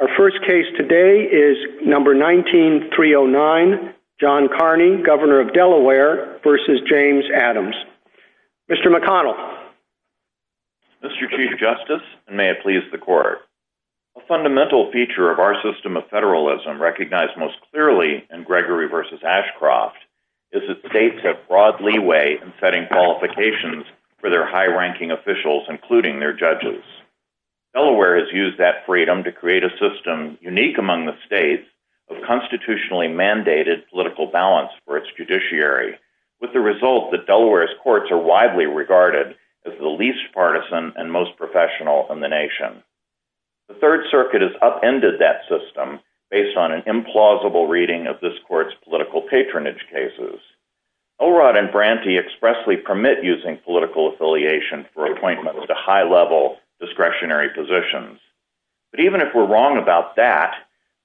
Our first case today is number 19-309, John Kearney, Governor of Delaware v. James Adams. Mr. McConnell. Mr. Chief Justice, and may it please the Court. A fundamental feature of our system of federalism, recognized most clearly in Gregory v. Ashcroft, is that states have broad leeway in setting qualifications for their high-ranking officials, including their judges. Delaware has used that freedom to create a system, unique among the states, of constitutionally mandated political balance for its judiciary, with the result that Delaware's courts are widely regarded as the least partisan and most professional in the nation. The Third Circuit has upended that system based on an implausible reading of this Court's political patronage cases. Elrod and Branty expressly permit using political affiliation for appointments to high-level discretionary positions. But even if we're wrong about that,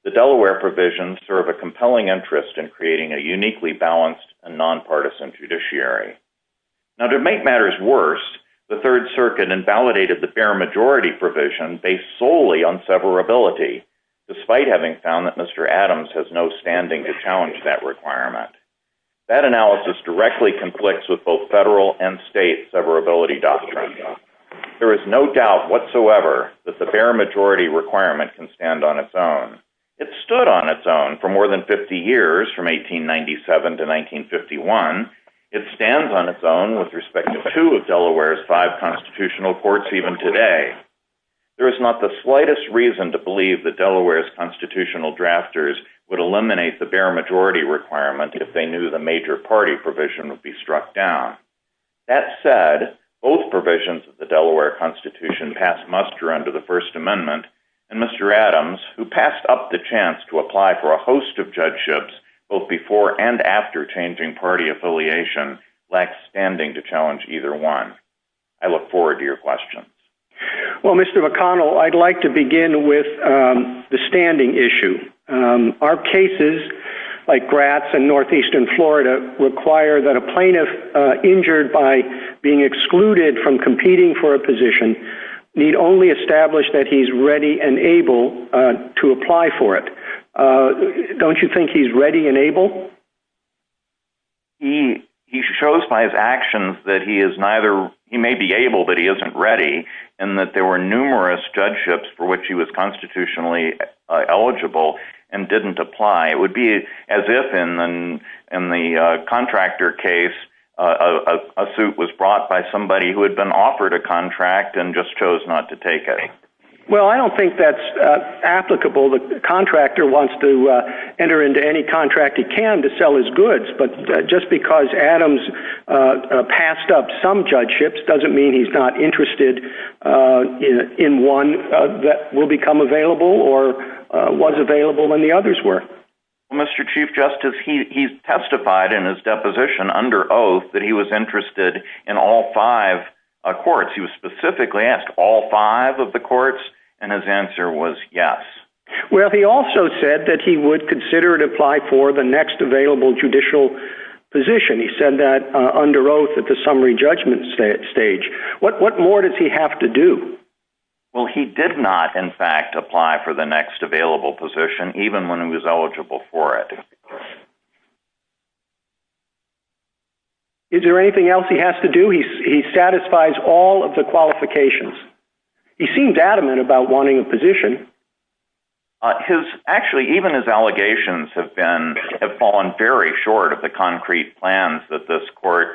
the Delaware provisions serve a compelling interest in creating a uniquely balanced and nonpartisan judiciary. Now to make matters worse, the Third Circuit invalidated the fair majority provision based solely on severability, despite having found that Mr. Adams has no standing to challenge that requirement. That analysis directly conflicts with both federal and state severability doctrines. There is no doubt whatsoever that the fair majority requirement can stand on its own. It stood on its own for more than 50 years, from 1897 to 1951. It stands on its own with respect to two of Delaware's five constitutional courts even today. There is not the slightest reason to believe that Delaware's constitutional drafters would eliminate the fair majority requirement if they knew the major party provision would be struck down. That said, both provisions of the Delaware Constitution passed muster under the First Amendment, and Mr. Adams, who passed up the chance to apply for a host of judgeships both before and after changing party affiliation, lacks standing to challenge either one. I look forward to your questions. Well, Mr. McConnell, I'd like to begin with the standing issue. Our cases, like Gratz in northeastern Florida, require that a plaintiff injured by being excluded from competing for a position need only establish that he's ready and able to apply for it. Don't you think he's ready and able? He shows by his actions that he may be able, but he isn't ready, and that there were numerous judgeships for which he was constitutionally eligible and didn't apply. It would be as if, in the contractor case, a suit was brought by somebody who had been offered a contract and just chose not to take it. Well, I don't think that's applicable. The contractor wants to enter into any contract he can to sell his goods, but just because Adams passed up some judgeships doesn't mean he's not interested in one that will become available or was available when the others were. Mr. Chief Justice, he testified in his deposition under oath that he was interested in all five courts. He was specifically asked all five of the courts, and his answer was yes. Well, he also said that he would consider and apply for the next available judicial position. He said that under oath at the summary judgment stage. What more does he have to do? Well, he did not, in fact, apply for the next available position, even when he was eligible for it. Is there anything else he has to do? He satisfies all of the qualifications. He seemed adamant about wanting a position. Actually, even his allegations have fallen very short of the concrete plans that this court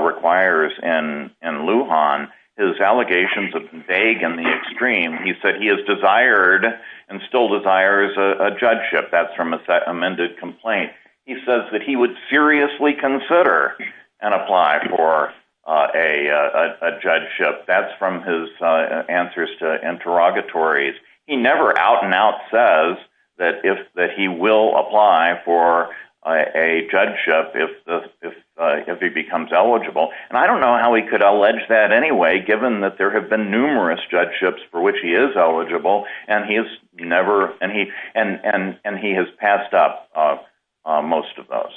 requires in Lujan. His allegations have been vague in the extreme. He said he has desired and still desires a judgeship. That's from his amended complaint. He says that he would seriously consider and apply for a judgeship. That's from his answers to interrogatories. He never out and out says that he will apply for a judgeship if he becomes eligible. And I don't know how he could allege that anyway, given that there have been numerous judgeships for which he is eligible, and he has passed up most of those.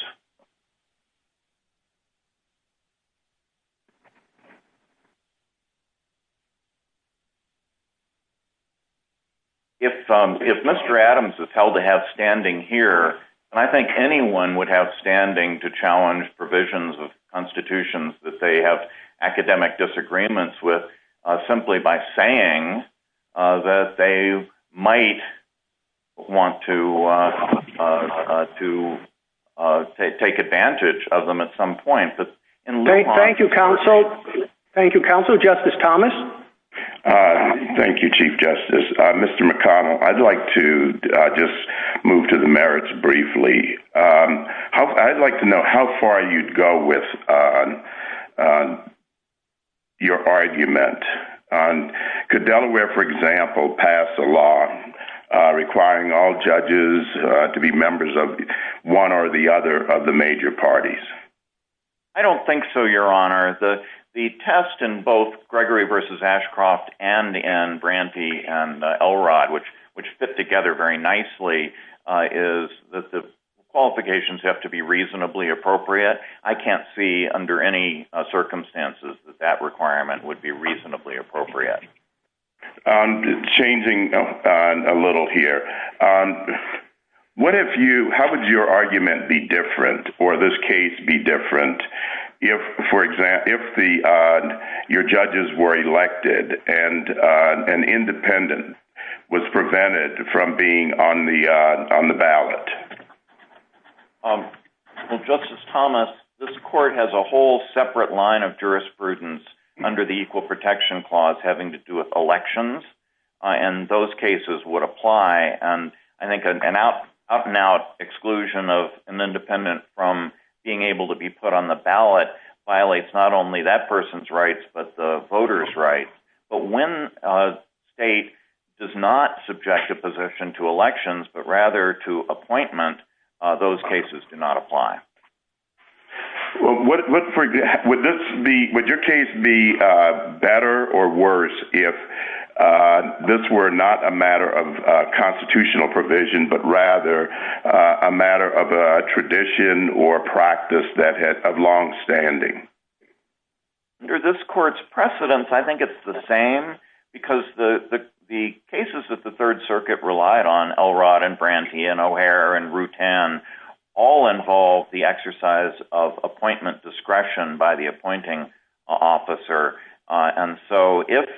If Mr. Adams is held to have standing here, I think anyone would have standing to challenge provisions of constitutions that they have academic disagreements with, simply by saying that they might want to take advantage of them at some point. Thank you, counsel. Thank you, counsel. Justice Thomas? Thank you, Chief Justice. Mr. McConnell, I'd like to just move to the merits briefly. I'd like to know how far you'd go with your argument. Could Delaware, for example, pass a law requiring all judges to be members of one or the other of the major parties? I don't think so, Your Honor. The test in both Gregory v. Ashcroft and in Branty and Elrod, which fit together very nicely, is that the qualifications have to be reasonably appropriate. I can't see under any circumstances that that requirement would be reasonably appropriate. Changing a little here, how would your argument be different, or this case be different, if, for example, your judges were elected and an independent was prevented from being on the ballot? Well, Justice Thomas, this court has a whole separate line of jurisprudence under the Equal Protection Clause having to do with elections, and those cases would apply. I think an up-and-out exclusion of an independent from being able to be put on the ballot violates not only that person's rights, but the voters' rights. But when a state does not subject a position to elections, but rather to appointment, those cases do not apply. Would your case be better or worse if this were not a matter of constitutional provision, but rather a matter of a tradition or a practice of longstanding? Under this court's precedence, I think it's the same, because the cases that the Third Circuit relied on, Elrod and Brantee and O'Hare and Rutan, all involve the exercise of appointment discretion by the appointing officer. And so if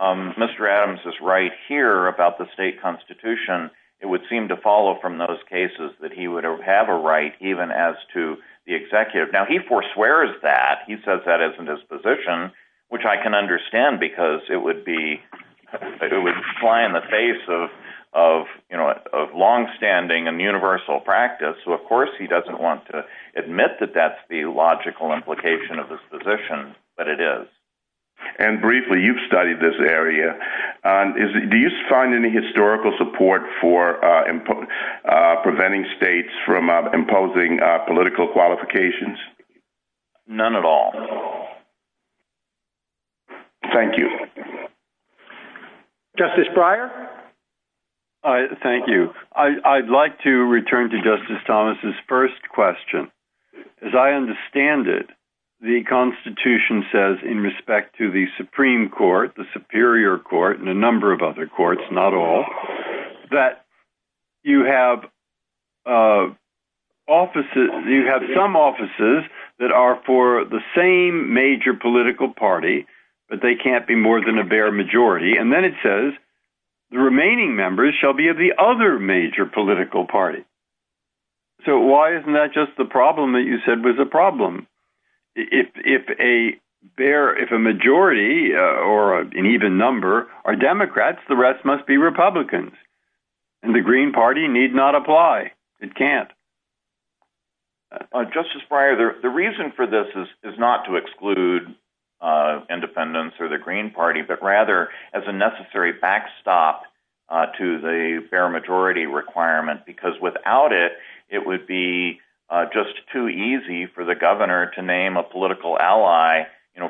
Mr. Adams is right here about the state constitution, it would seem to follow from those cases that he would have a right, even as to the executive. Now, he forswears that. He says that isn't his position, which I can understand, because it would fly in the face of longstanding and universal practice. So, of course, he doesn't want to admit that that's the logical implication of his position, but it is. And briefly, you've studied this area. Do you find any historical support for preventing states from imposing political qualifications? None at all. Thank you. Justice Breyer. Thank you. I'd like to return to Justice Thomas's first question. As I understand it, the Constitution says in respect to the Supreme Court, the Superior Court, and a number of other courts, not all, that you have some offices that are for the same major political party, but they can't be more than a bare majority. And then it says the remaining members shall be of the other major political party. So why isn't that just the problem that you said was a problem? If a majority or an even number are Democrats, the rest must be Republicans, and the Green Party need not apply. It can't. Justice Breyer, the reason for this is not to exclude independents or the Green Party, but rather as a necessary backstop to the bare majority requirement, because without it, it would be just too easy for the governor to name a political ally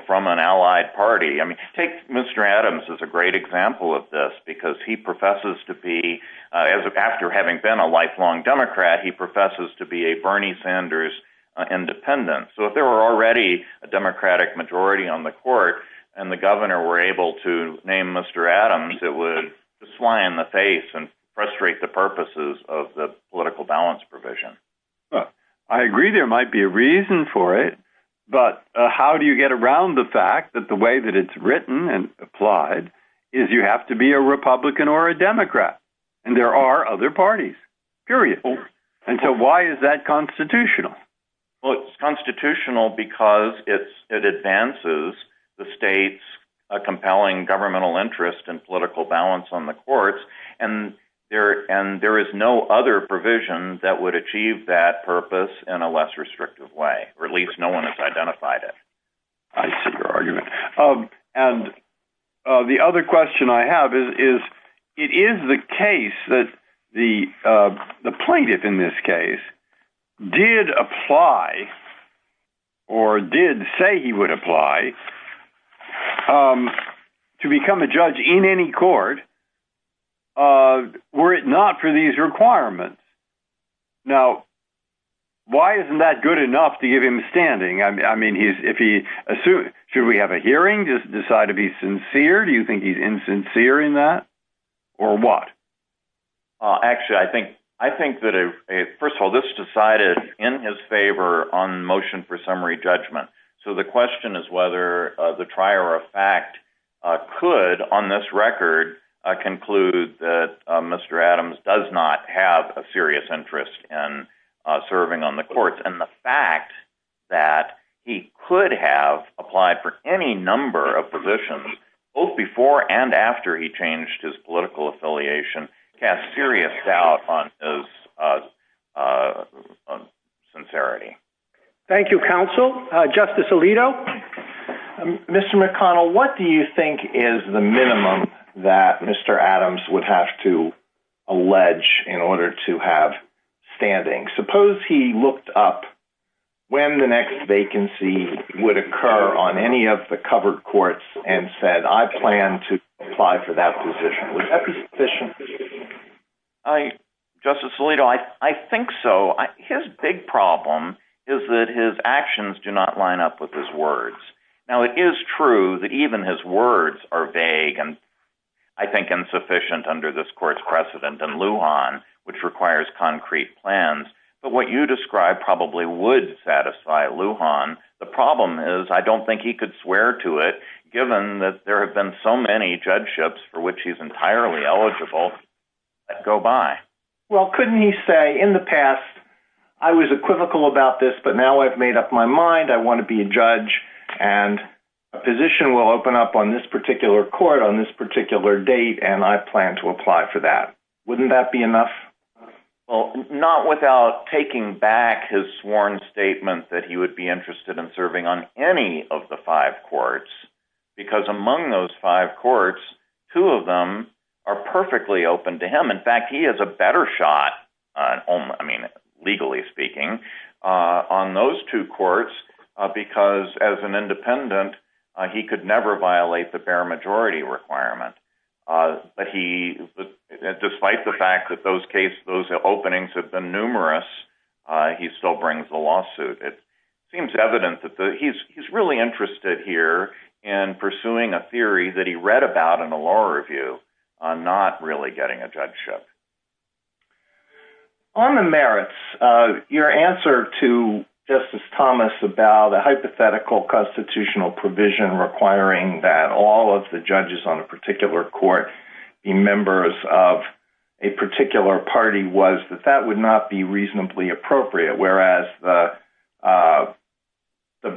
from an allied party. Take Mr. Adams as a great example of this, because he professes to be, after having been a lifelong Democrat, he professes to be a Bernie Sanders independent. So if there were already a Democratic majority on the court and the governor were able to name Mr. Adams, it would just fly in the face and frustrate the purposes of the political balance provision. I agree there might be a reason for it, but how do you get around the fact that the way that it's written and applied is you have to be a Republican or a Democrat, and there are other parties, period. And so why is that constitutional? Well, it's constitutional because it advances the state's compelling governmental interest in political balance on the courts, and there is no other provision that would achieve that purpose in a less restrictive way, or at least no one has identified it. I see your argument. And the other question I have is it is the case that the plaintiff in this case did apply or did say he would apply to become a judge in any court were it not for these requirements. Now, why isn't that good enough to give him standing? I mean, should we have a hearing, just decide to be sincere? Do you think he's insincere in that or what? Actually, I think that, first of all, this decided in his favor on motion for summary judgment. So the question is whether the trier of fact could, on this record, conclude that Mr. Adams does not have a serious interest in serving on the courts. And the fact that he could have applied for any number of positions, both before and after he changed his political affiliation, casts serious doubt on his sincerity. Thank you, counsel. Justice Alito? Mr. McConnell, what do you think is the minimum that Mr. Adams would have to allege in order to have standing? Suppose he looked up when the next vacancy would occur on any of the covered courts and said, I plan to apply for that position. Would that be sufficient? Justice Alito, I think so. His big problem is that his actions do not line up with his words. Now, it is true that even his words are vague and, I think, insufficient under this court's precedent in Lujan, which requires concrete plans. But what you describe probably would satisfy Lujan. The problem is I don't think he could swear to it, given that there have been so many judgeships for which he's entirely eligible that go by. Well, couldn't he say, in the past, I was equivocal about this, but now I've made up my mind. I want to be a judge, and a position will open up on this particular court on this particular date, and I plan to apply for that. Wouldn't that be enough? Well, not without taking back his sworn statement that he would be interested in serving on any of the five courts, because among those five courts, two of them are perfectly open to him. In fact, he has a better shot, legally speaking, on those two courts, because as an independent, he could never violate the bare majority requirement. But despite the fact that those openings have been numerous, he still brings the lawsuit. It seems evident that he's really interested here in pursuing a theory that he read about in a law review on not really getting a judgeship. On the merits, your answer to Justice Thomas about a hypothetical constitutional provision requiring that all of the judges on a particular court be members of a particular party was that that would not be reasonably appropriate, whereas the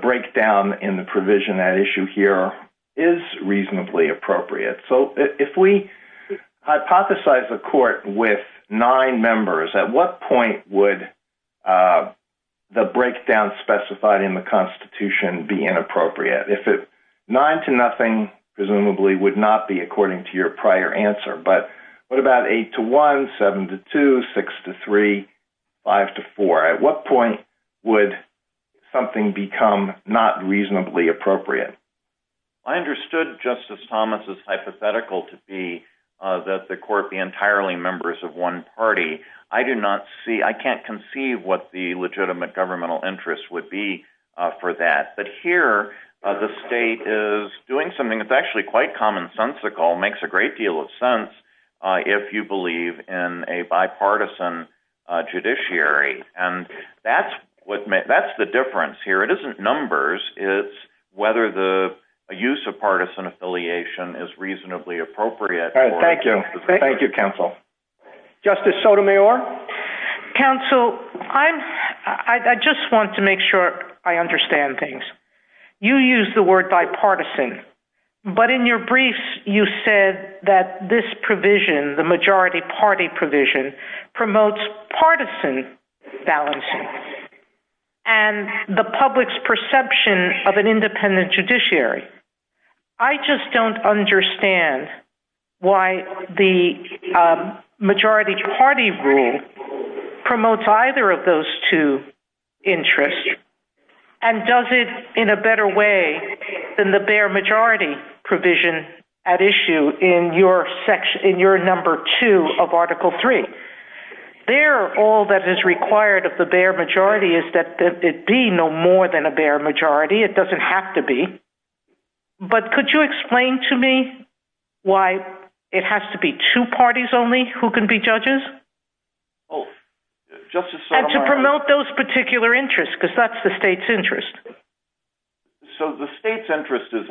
breakdown in the provision at issue here is reasonably appropriate. So if we hypothesize a court with nine members, at what point would the breakdown specified in the Constitution be inappropriate? Nine to nothing, presumably, would not be according to your prior answer, but what about eight to one, seven to two, six to three, five to four? At what point would something become not reasonably appropriate? I understood Justice Thomas' hypothetical to be that the court be entirely members of one party. I can't conceive what the legitimate governmental interest would be for that. But here, the state is doing something that's actually quite commonsensical, makes a great deal of sense if you believe in a bipartisan judiciary. And that's the difference here. It isn't numbers. It's whether the use of partisan affiliation is reasonably appropriate. Thank you. Thank you, counsel. Justice Sotomayor? Counsel, I just want to make sure I understand things. You used the word bipartisan, but in your briefs, you said that this provision, the majority party provision, promotes partisan balancing. And the public's perception of an independent judiciary. I just don't understand why the majority party rule promotes either of those two interests and does it in a better way than the bare majority provision at issue in your section, in your number two of Article Three. There, all that is required of the bare majority is that it be no more than a bare majority. It doesn't have to be. But could you explain to me why it has to be two parties only who can be judges? Justice Sotomayor? And to promote those particular interests, because that's the state's interest. So the state's interest is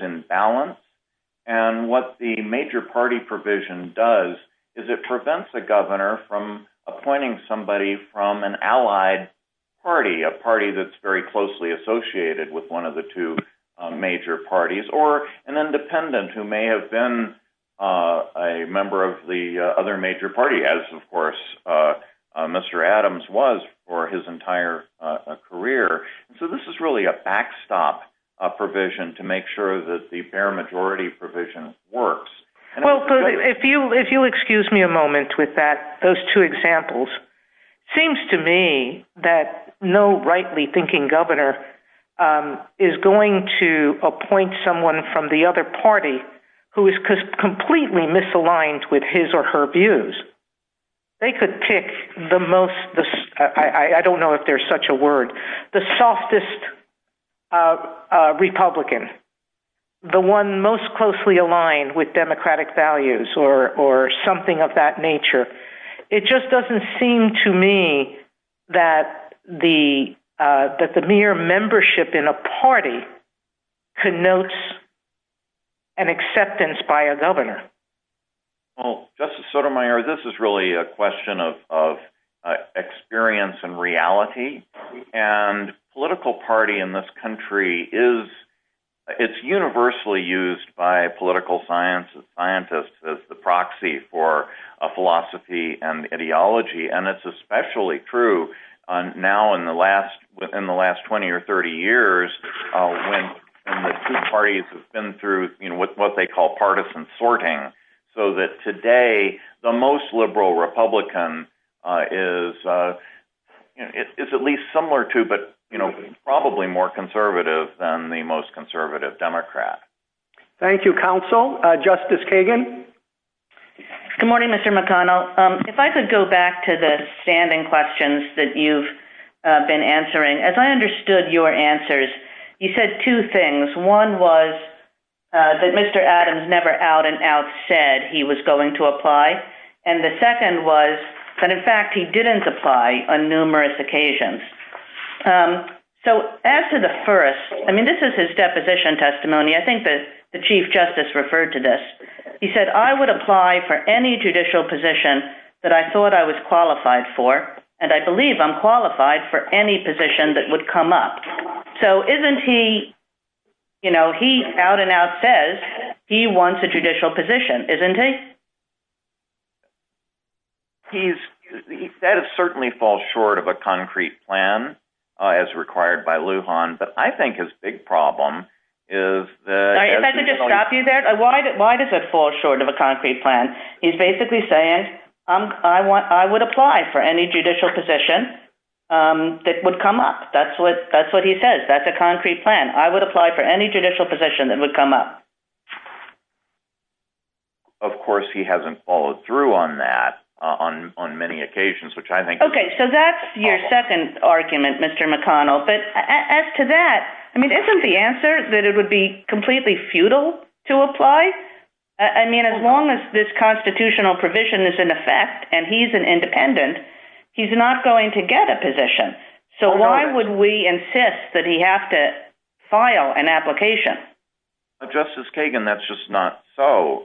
in balance. And what the major party provision does is it prevents a governor from appointing somebody from an allied party, a party that's very closely associated with one of the two major parties, or an independent who may have been a member of the other major party, as, of course, Mr. Adams was for his entire career. So this is really a backstop provision to make sure that the bare majority provision works. Well, if you excuse me a moment with that, those two examples, seems to me that no rightly thinking governor is going to appoint someone from the other party who is completely misaligned with his or her views. They could pick the most, I don't know if there's such a word, the softest Republican, the one most closely aligned with democratic values or something of that nature. It just doesn't seem to me that the mere membership in a party connotes an acceptance by a governor. Well, Justice Sotomayor, this is really a question of experience and reality. And political party in this country is, it's universally used by political scientists as the proxy for a philosophy and ideology. And it's especially true now in the last 20 or 30 years when the two parties have been through what they call partisan sorting. So that today, the most liberal Republican is at least similar to, but probably more conservative than the most conservative Democrat. Thank you, Counsel. Justice Kagan? Good morning, Mr. McConnell. If I could go back to the standing questions that you've been answering. As I understood your answers, you said two things. One was that Mr. Adams never out and out said he was going to apply. And the second was that in fact he didn't apply on numerous occasions. So as to the first, I mean, this is his deposition testimony. I think that the Chief Justice referred to this. He said, I would apply for any judicial position that I thought I was qualified for. And I believe I'm qualified for any position that would come up. So isn't he, you know, he out and out says he wants a judicial position, isn't he? He said it certainly falls short of a concrete plan as required by Lujan. But I think his big problem is that... If I could just stop you there. Why does it fall short of a concrete plan? He's basically saying, I would apply for any judicial position that would come up. That's what he says. That's a concrete plan. I would apply for any judicial position that would come up. Of course, he hasn't followed through on that on many occasions, which I think... Okay, so that's your second argument, Mr. McConnell. But as to that, I mean, isn't the answer that it would be completely futile to apply? I mean, as long as this constitutional provision is in effect and he's an independent, he's not going to get a position. So why would we insist that he have to file an application? Justice Kagan, that's just not so.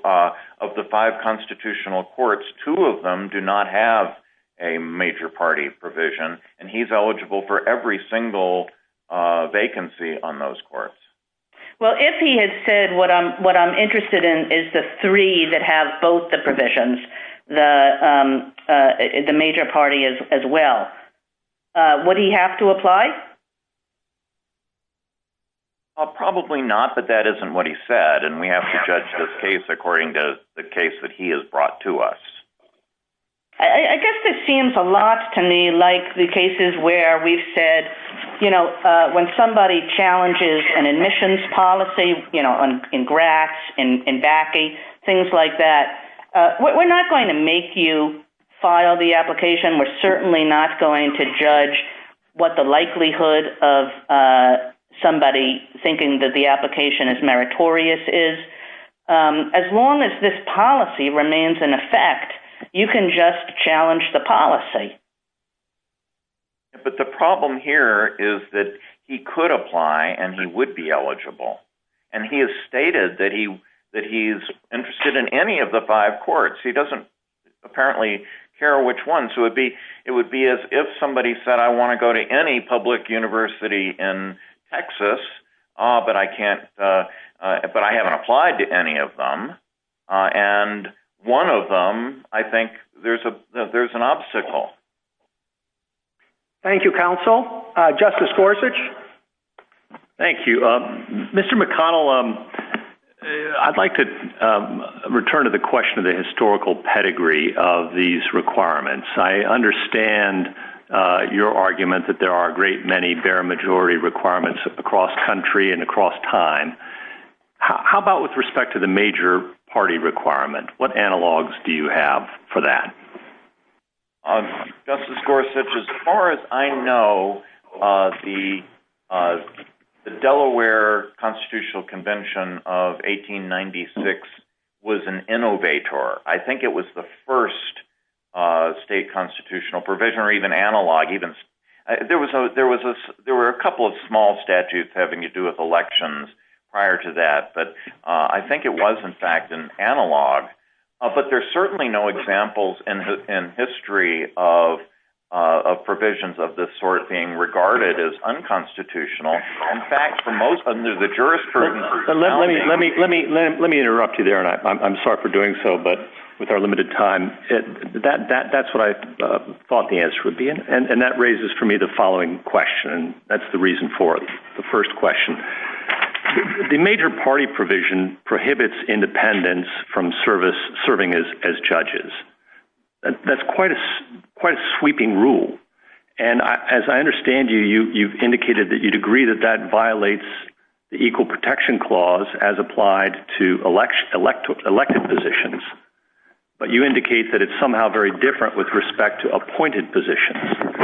Of the five constitutional courts, two of them do not have a major party provision, and he's eligible for every single vacancy on those courts. Well, if he had said what I'm interested in is the three that have both the provisions, the major party as well, would he have to apply? Probably not, but that isn't what he said, and we have to judge this case according to the case that he has brought to us. I guess this seems a lot to me like the cases where we've said, you know, when somebody challenges an admissions policy, you know, in Gratz, in BACI, things like that, we're not going to make you file the application. We're certainly not going to judge what the likelihood of somebody thinking that the application is meritorious is. As long as this policy remains in effect, you can just challenge the policy. But the problem here is that he could apply and he would be eligible, and he has stated that he's interested in any of the five courts. He doesn't apparently care which ones. It would be as if somebody said, I want to go to any public university in Texas, but I haven't applied to any of them, and one of them, I think there's an obstacle. Thank you, counsel. Justice Gorsuch? Thank you. Mr. McConnell, I'd like to return to the question of the historical pedigree of these requirements. I understand your argument that there are a great many bare majority requirements across country and across time. How about with respect to the major party requirement? What analogs do you have for that? Justice Gorsuch, as far as I know, the Delaware Constitutional Convention of 1896 was an innovator. I think it was the first state constitutional provision or even analog. There were a couple of small statutes having to do with elections prior to that, but I think it was, in fact, an analog. But there are certainly no examples in history of provisions of this sort being regarded as unconstitutional. In fact, for most of the jurisprudence… Let me interrupt you there, and I'm sorry for doing so, but with our limited time, that's what I thought the answer would be, and that raises for me the following question, and that's the reason for the first question. The major party provision prohibits independence from serving as judges. That's quite a sweeping rule, and as I understand you, you've indicated that you'd agree that that violates the Equal Protection Clause as applied to elected positions, but you indicate that it's somehow very different with respect to appointed positions.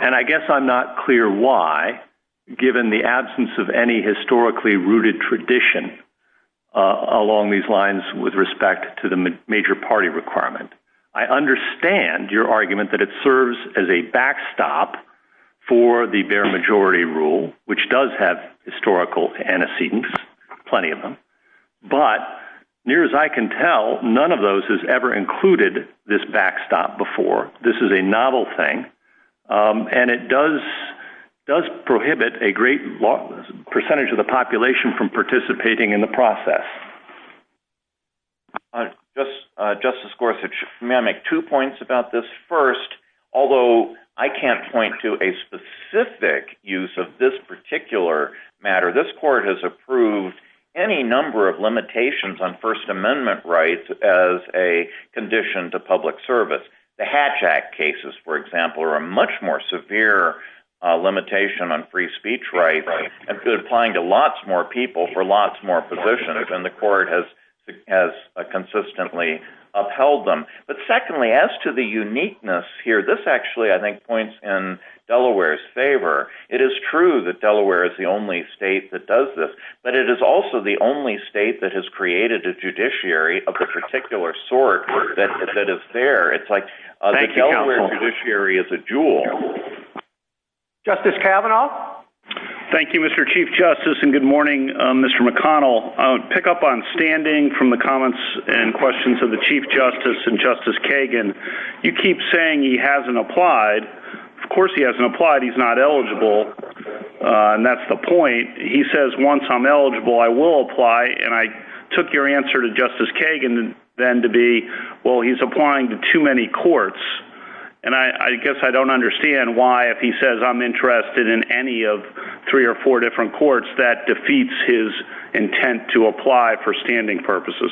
And I guess I'm not clear why, given the absence of any historically rooted tradition along these lines with respect to the major party requirement. I understand your argument that it serves as a backstop for the bare majority rule, which does have historical antecedents, plenty of them, but near as I can tell, none of those has ever included this backstop before. This is a novel thing, and it does prohibit a great percentage of the population from participating in the process. Justice Gorsuch, may I make two points about this? First, although I can't point to a specific use of this particular matter, this Court has approved any number of limitations on First Amendment rights as a condition to public service. The Hatch Act cases, for example, are a much more severe limitation on free speech rights, and applying to lots more people for lots more positions, and the Court has consistently upheld them. But secondly, as to the uniqueness here, this actually, I think, points in Delaware's favor. It is true that Delaware is the only state that does this, but it is also the only state that has created a judiciary of the particular sort that is there. It's like the Delaware judiciary is a jewel. Justice Kavanaugh? Thank you, Mr. Chief Justice, and good morning, Mr. McConnell. I would pick up on standing from the comments and questions of the Chief Justice and Justice Kagan. You keep saying he hasn't applied. Of course he hasn't applied. He's not eligible, and that's the point. He says, once I'm eligible, I will apply, and I took your answer to Justice Kagan then to be, well, he's applying to too many courts, and I guess I don't understand why, if he says, I'm interested in any of three or four different courts, that defeats his intent to apply for standing purposes.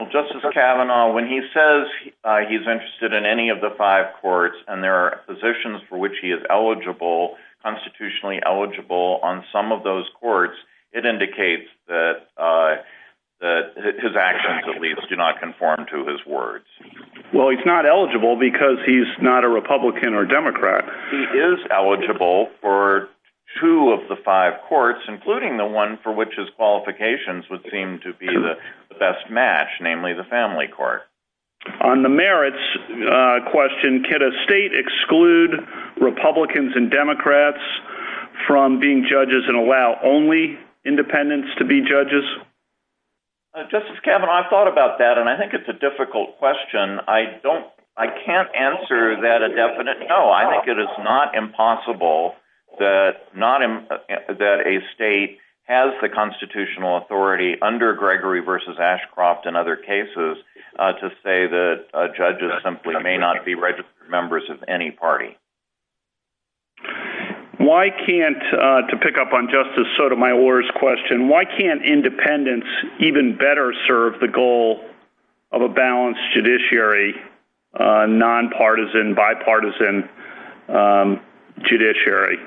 Well, Justice Kavanaugh, when he says he's interested in any of the five courts, and there are positions for which he is eligible, constitutionally eligible, on some of those courts, it indicates that his actions, at least, do not conform to his words. Well, he's not eligible because he's not a Republican or Democrat. He is eligible for two of the five courts, including the one for which his qualifications would seem to be the best match, namely the family court. On the merits question, can a state exclude Republicans and Democrats from being judges and allow only independents to be judges? Justice Kavanaugh, I've thought about that, and I think it's a difficult question. I can't answer that a definite no. I think it is not impossible that a state has the constitutional authority under Gregory v. Ashcroft and other cases to say that judges simply may not be registered members of any party. Why can't, to pick up on Justice Sotomayor's question, why can't independents even better serve the goal of a balanced judiciary, nonpartisan, bipartisan judiciary?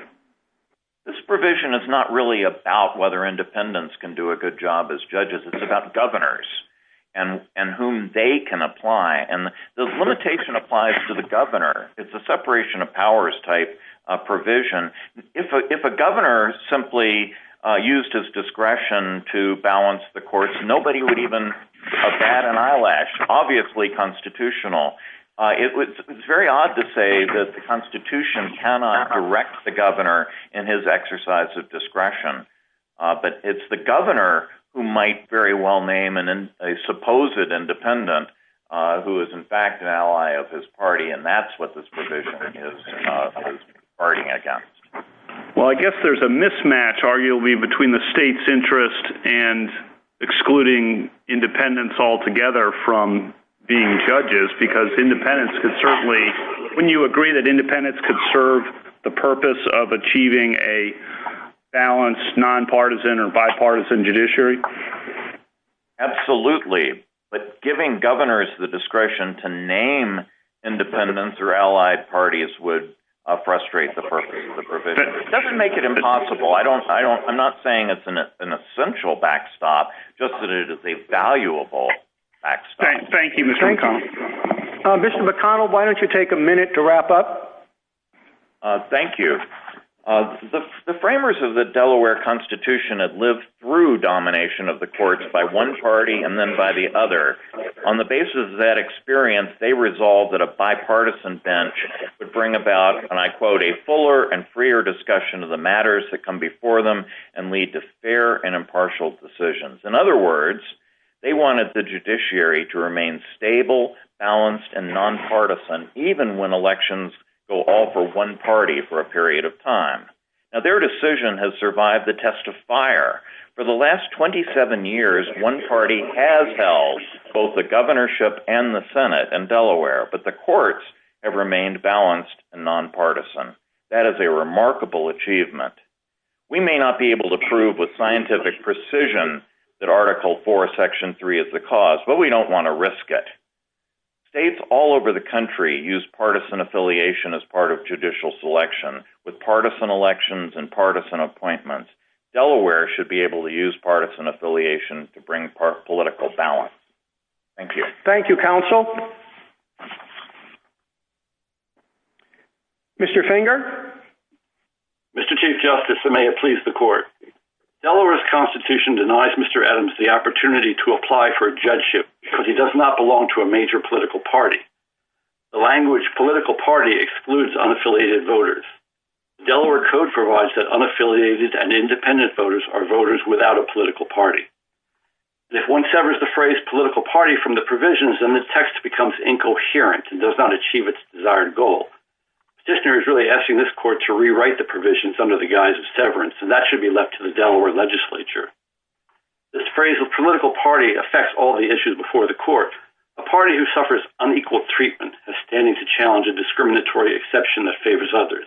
This provision is not really about whether independents can do a good job as judges. It's about governors and whom they can apply, and the limitation applies to the governor. It's a separation of powers type provision. If a governor simply used his discretion to balance the courts, nobody would even bat an eyelash, obviously constitutional. It's very odd to say that the Constitution cannot direct the governor in his exercise of discretion, but it's the governor who might very well name a supposed independent who is in fact an ally of his party, and that's what this provision is arguing against. Well, I guess there's a mismatch, arguably, between the state's interest and excluding independents altogether from being judges because independents could certainly, wouldn't you agree that independents could serve the purpose of achieving a balanced, nonpartisan, or bipartisan judiciary? Absolutely, but giving governors the discretion to name independents or allied parties would frustrate the purpose of the provision. It doesn't make it impossible. I'm not saying it's an essential backstop, just that it is a valuable backstop. Thank you, Mr. McConnell. Mr. McConnell, why don't you take a minute to wrap up? Thank you. The framers of the Delaware Constitution had lived through domination of the courts by one party and then by the other. On the basis of that experience, they resolved that a bipartisan bench would bring about, and I quote, a fuller and freer discussion of the matters that come before them and lead to fair and impartial decisions. In other words, they wanted the judiciary to remain stable, balanced, and nonpartisan, even when elections go all for one party for a period of time. Now, their decision has survived the test of fire. For the last 27 years, one party has held both the governorship and the Senate in Delaware, but the courts have remained balanced and nonpartisan. That is a remarkable achievement. We may not be able to prove with scientific precision that Article IV, Section 3 is the cause, but we don't want to risk it. States all over the country use partisan affiliation as part of judicial selection. With partisan elections and partisan appointments, Delaware should be able to use partisan affiliation to bring political balance. Thank you. Thank you, counsel. Mr. Finger? Mr. Chief Justice, and may it please the Court. Delaware's Constitution denies Mr. Adams the opportunity to apply for a judgeship because he does not belong to a major political party. The language political party excludes unaffiliated voters. The Delaware Code provides that unaffiliated and independent voters are voters without a political party. If one severs the phrase political party from the provisions, then the text becomes incoherent and does not achieve its desired goal. The petitioner is really asking this Court to rewrite the provisions under the guise of severance, and that should be left to the Delaware legislature. This phrase of political party affects all the issues before the Court. A party who suffers unequal treatment has standing to challenge a discriminatory exception that favors others.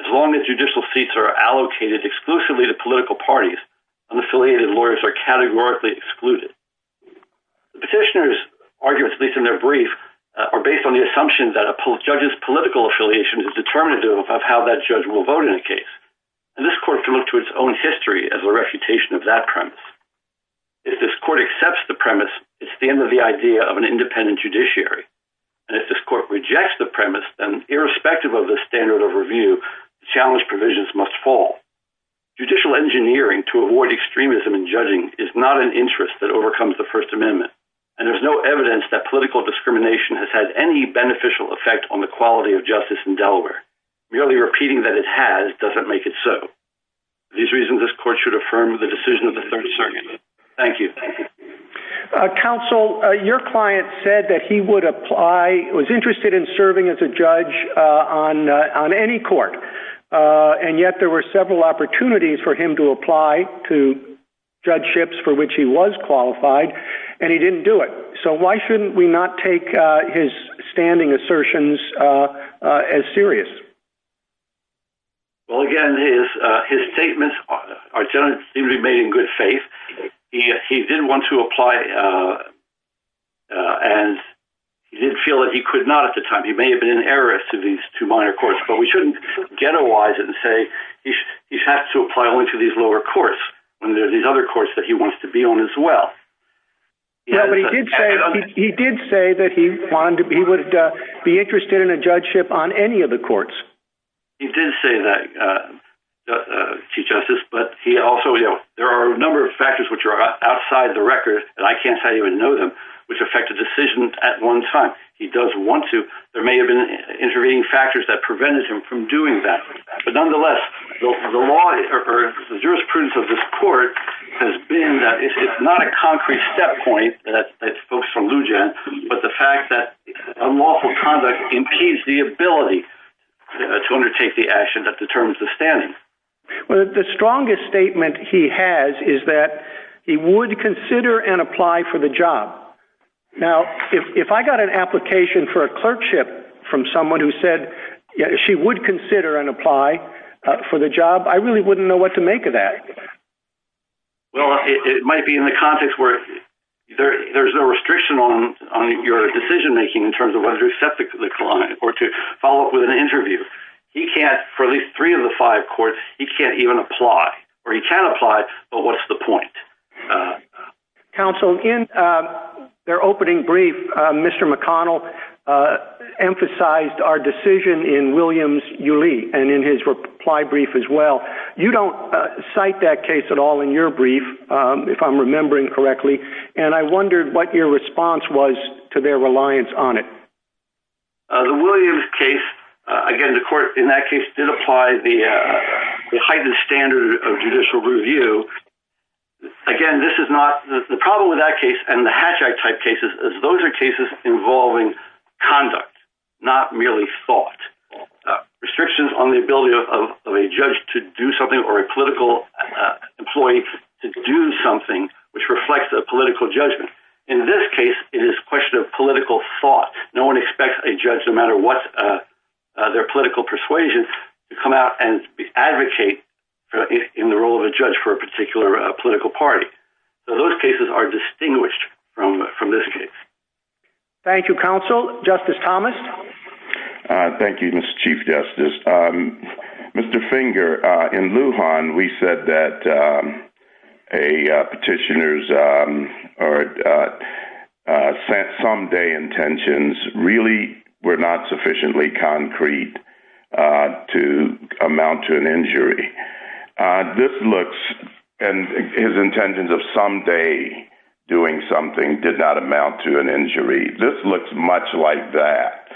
As long as judicial seats are allocated exclusively to political parties, unaffiliated lawyers are categorically excluded. The petitioner's arguments, at least in their brief, are based on the assumption that a judge's political affiliation is determinative of how that judge will vote in a case. And this Court can look to its own history as a refutation of that premise. If this Court accepts the premise, it's the end of the idea of an independent judiciary. And if this Court rejects the premise, then, irrespective of the standard of review, the challenge provisions must fall. Judicial engineering to avoid extremism in judging is not an interest that overcomes the First Amendment, and there's no evidence that political discrimination has had any beneficial effect on the quality of justice in Delaware. Merely repeating that it has doesn't make it so. For these reasons, this Court should affirm the decision of the Third Circuit. Thank you. Counsel, your client said that he would apply, was interested in serving as a judge on any court, and yet there were several opportunities for him to apply to judgeships for which he was qualified, and he didn't do it. So why shouldn't we not take his standing assertions as serious? Well, again, his statements seem to be made in good faith. He did want to apply, and he didn't feel that he could not at the time. He may have been an heiress to these two minor courts, but we shouldn't ghettoize it and say he has to apply only to these lower courts when there are these other courts that he wants to be on as well. Yeah, but he did say that he would be interested in a judgeship on any of the courts. He did say that, Chief Justice, but there are a number of factors which are outside the record, and I can't say I even know them, which affect a decision at one time. He does want to. There may have been intervening factors that prevented him from doing that. But nonetheless, the jurisprudence of this court has been that it's not a concrete step point, that folks from Lujan, but the fact that unlawful conduct impedes the ability to undertake the action that determines the standing. Well, the strongest statement he has is that he would consider and apply for the job. Now, if I got an application for a clerkship from someone who said she would consider and apply for the job, I really wouldn't know what to make of that. Well, it might be in the context where there's no restriction on your decision making in terms of whether to accept the client or to follow up with an interview. He can't, for at least three of the five courts, he can't even apply. Or he can apply, but what's the point? Counsel, in their opening brief, Mr. McConnell emphasized our decision in Williams-Yu Lee and in his reply brief as well. You don't cite that case at all in your brief, if I'm remembering correctly, and I wondered what your response was to their reliance on it. The Williams case, again, the court in that case did apply the heightened standard of judicial review. Again, the problem with that case and the Hatch Act type cases is those are cases involving conduct, not merely thought. Restrictions on the ability of a judge to do something or a political employee to do something which reflects a political judgment. In this case, it is a question of political thought. No one expects a judge, no matter what their political persuasion, to come out and advocate in the role of a judge for a particular political party. Those cases are distinguished from this case. Thank you, Counsel. Justice Thomas? Thank you, Mr. Chief Justice. Mr. Finger, in Lujan, we said that a petitioner's someday intentions really were not sufficiently concrete to amount to an injury. This looks, and his intentions of someday doing something did not amount to an injury. This looks much like that.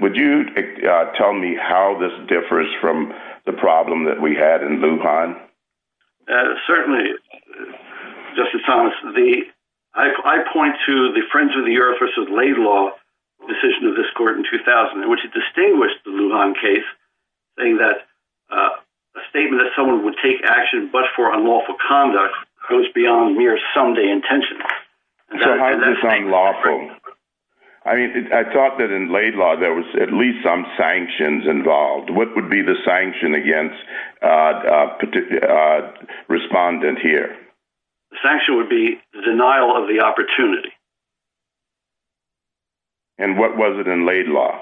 Would you tell me how this differs from the problem that we had in Lujan? Certainly, Justice Thomas. I point to the Friends of the Earth v. Laidlaw decision of this court in 2000, which distinguished the Lujan case, saying that a statement that someone would take action but for unlawful conduct goes beyond mere someday intentions. How is this unlawful? I mean, I thought that in Laidlaw there was at least some sanctions involved. What would be the sanction against a respondent here? The sanction would be the denial of the opportunity. And what was it in Laidlaw?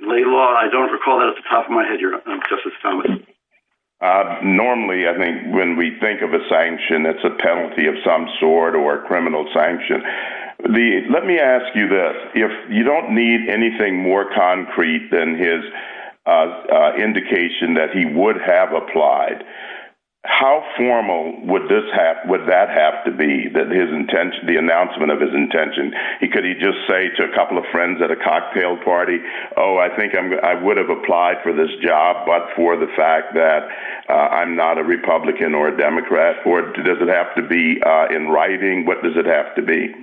In Laidlaw, I don't recall that off the top of my head, Justice Thomas. Normally, I think when we think of a sanction, it's a penalty of some sort or a criminal sanction. Let me ask you this. If you don't need anything more concrete than his indication that he would have applied, how formal would that have to be, the announcement of his intention? Could he just say to a couple of friends at a cocktail party, oh, I think I would have applied for this job but for the fact that I'm not a Republican or a Democrat? Or does it have to be in writing? What does it have to be?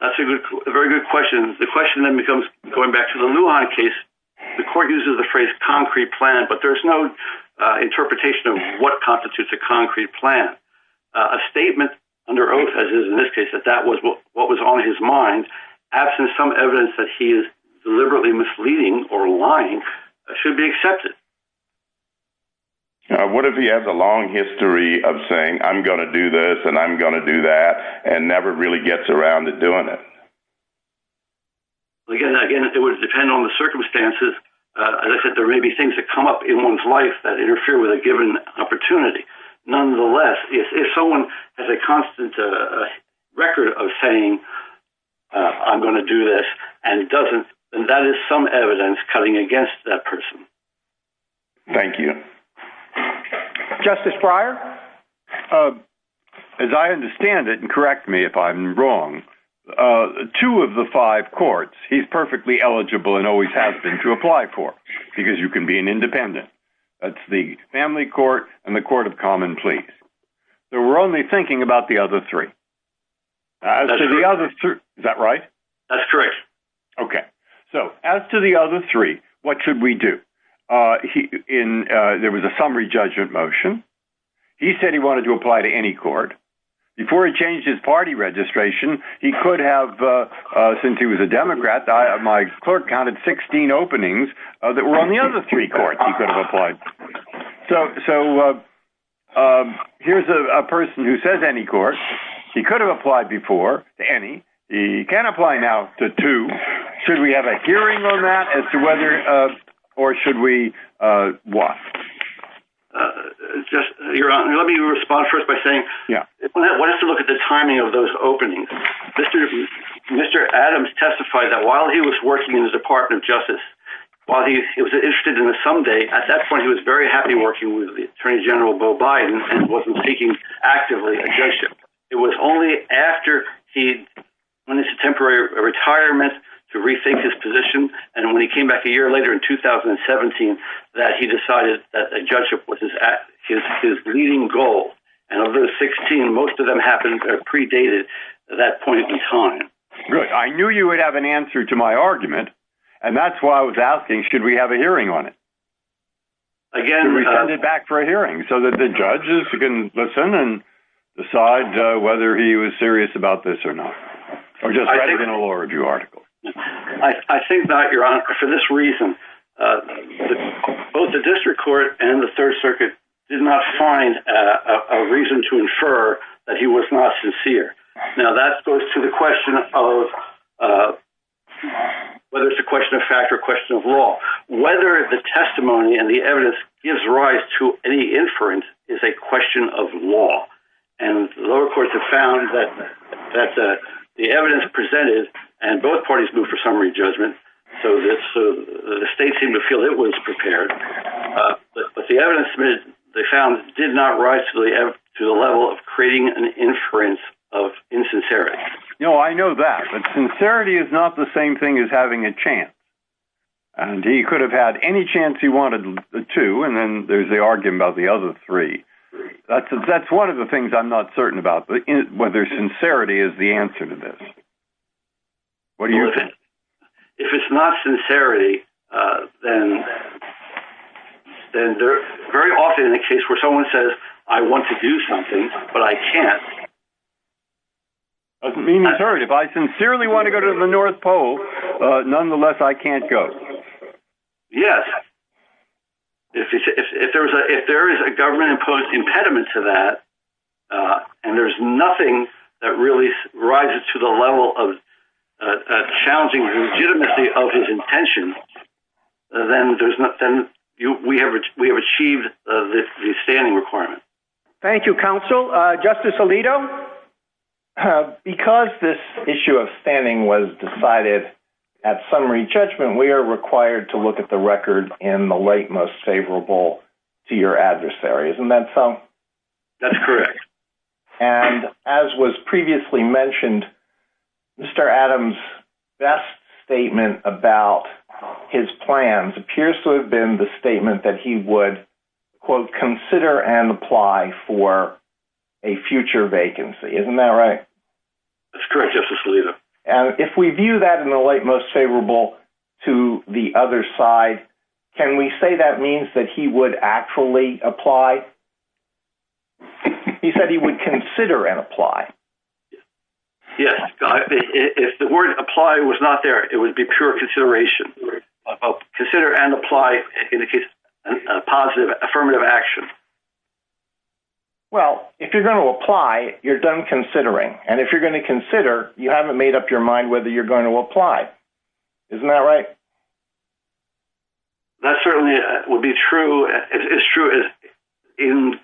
That's a very good question. The question then becomes, going back to the Lujan case, the court uses the phrase concrete plan, but there's no interpretation of what constitutes a concrete plan. A statement under oath, as is in this case, that that was what was on his mind, absent some evidence that he is deliberately misleading or lying, should be accepted. What if he has a long history of saying, I'm going to do this and I'm going to do that, and never really gets around to doing it? Again, it would depend on the circumstances. As I said, there may be things that come up in one's life that interfere with a given opportunity. Nonetheless, if someone has a constant record of saying, I'm going to do this, and doesn't, then that is some evidence cutting against that person. Thank you. Justice Breyer? As I understand it, and correct me if I'm wrong, two of the five courts, he's perfectly eligible and always has been to apply for because you can be an independent. That's the Family Court and the Court of Common Pleas. So we're only thinking about the other three. Is that right? That's correct. Okay. So as to the other three, what should we do? There was a summary judgment motion. He said he wanted to apply to any court. Before he changed his party registration, he could have, since he was a Democrat, my clerk counted 16 openings that were on the other three courts he could have applied to. So here's a person who says any court. He could have applied before to any. He can apply now to two. Should we have a hearing on that? Or should we what? Let me respond first by saying, let's look at the timing of those openings. Mr. Adams testified that while he was working in the Department of Justice, while he was interested in the someday, at that point, he was very happy working with Attorney General Beau Biden and wasn't seeking actively a judgeship. It was only after he went into temporary retirement to rethink his position, and when he came back a year later in 2017 that he decided that a judgeship was his leading goal. And of those 16, most of them happened predated that point in time. Good. I knew you would have an answer to my argument. And that's why I was asking, should we have a hearing on it? Again, we send it back for a hearing so that the judges can listen and decide whether he was serious about this or not. Or just write it in a law review article. I think that for this reason, both the district court and the Third Circuit did not find a reason to infer that he was not sincere. Now, that goes to the question of whether it's a question of fact or question of law, whether the testimony and the evidence gives rise to any inference is a question of law. And the lower courts have found that the evidence presented, and both parties moved for summary judgment, so the state seemed to feel it was prepared. But the evidence they found did not rise to the level of creating an inference of insincerity. No, I know that, but sincerity is not the same thing as having a chance. And he could have had any chance he wanted to, and then there's the argument about the other three. That's one of the things I'm not certain about, whether sincerity is the answer to this. What do you think? If it's not sincerity, then very often in a case where someone says, I want to do something, but I can't. Doesn't mean he's hurt. If I sincerely want to go to the North Pole, nonetheless, I can't go. Yes. If there is a government-imposed impediment to that, and there's nothing that really rises to the level of challenging legitimacy of his intention, then we have achieved the standing requirement. Thank you, counsel. Justice Alito? Because this issue of standing was decided at summary judgment, we are required to look at the record in the late most favorable to your adversary. Isn't that so? That's correct. And as was previously mentioned, Mr. Adams' best statement about his plans appears to have been the statement that he would, quote, consider and apply for a future vacancy. Isn't that right? That's correct, Justice Alito. And if we view that in the late most favorable to the other side, can we say that means that he would actually apply? He said he would consider and apply. Yes. If the word apply was not there, it would be pure consideration. Consider and apply in the case of a positive affirmative action. Well, if you're going to apply, you're done considering. And if you're going to consider, you haven't made up your mind whether you're going to apply. Isn't that right? That certainly would be true. It's true in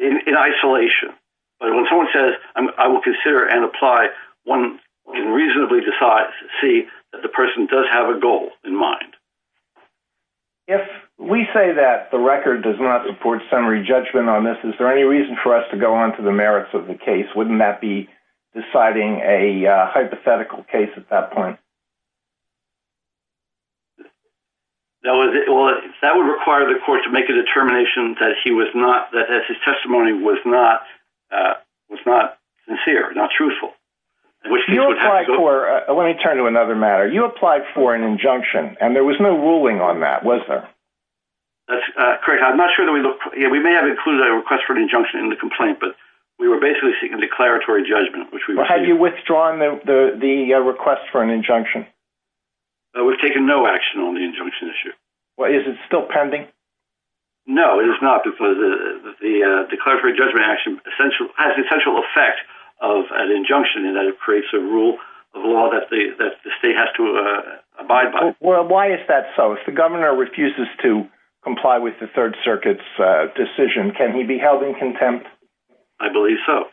isolation. But when someone says, I will consider and apply, one can reasonably see that the person does have a goal in mind. If we say that the record does not support summary judgment on this, is there any reason for us to go on to the merits of the case? Wouldn't that be deciding a hypothetical case at that point? That would require the court to make a determination that his testimony was not sincere, not truthful. Let me turn to another matter. You applied for an injunction, and there was no ruling on that, was there? That's correct. We may have included a request for an injunction in the complaint, but we were basically seeking declaratory judgment. Have you withdrawn the request for an injunction? We've taken no action on the injunction issue. Is it still pending? No, it is not. The declaratory judgment action has the essential effect of an injunction in that it creates a rule of law that the state has to abide by. Why is that so? If the governor refuses to comply with the Third Circuit's decision, can he be held in contempt? I believe so.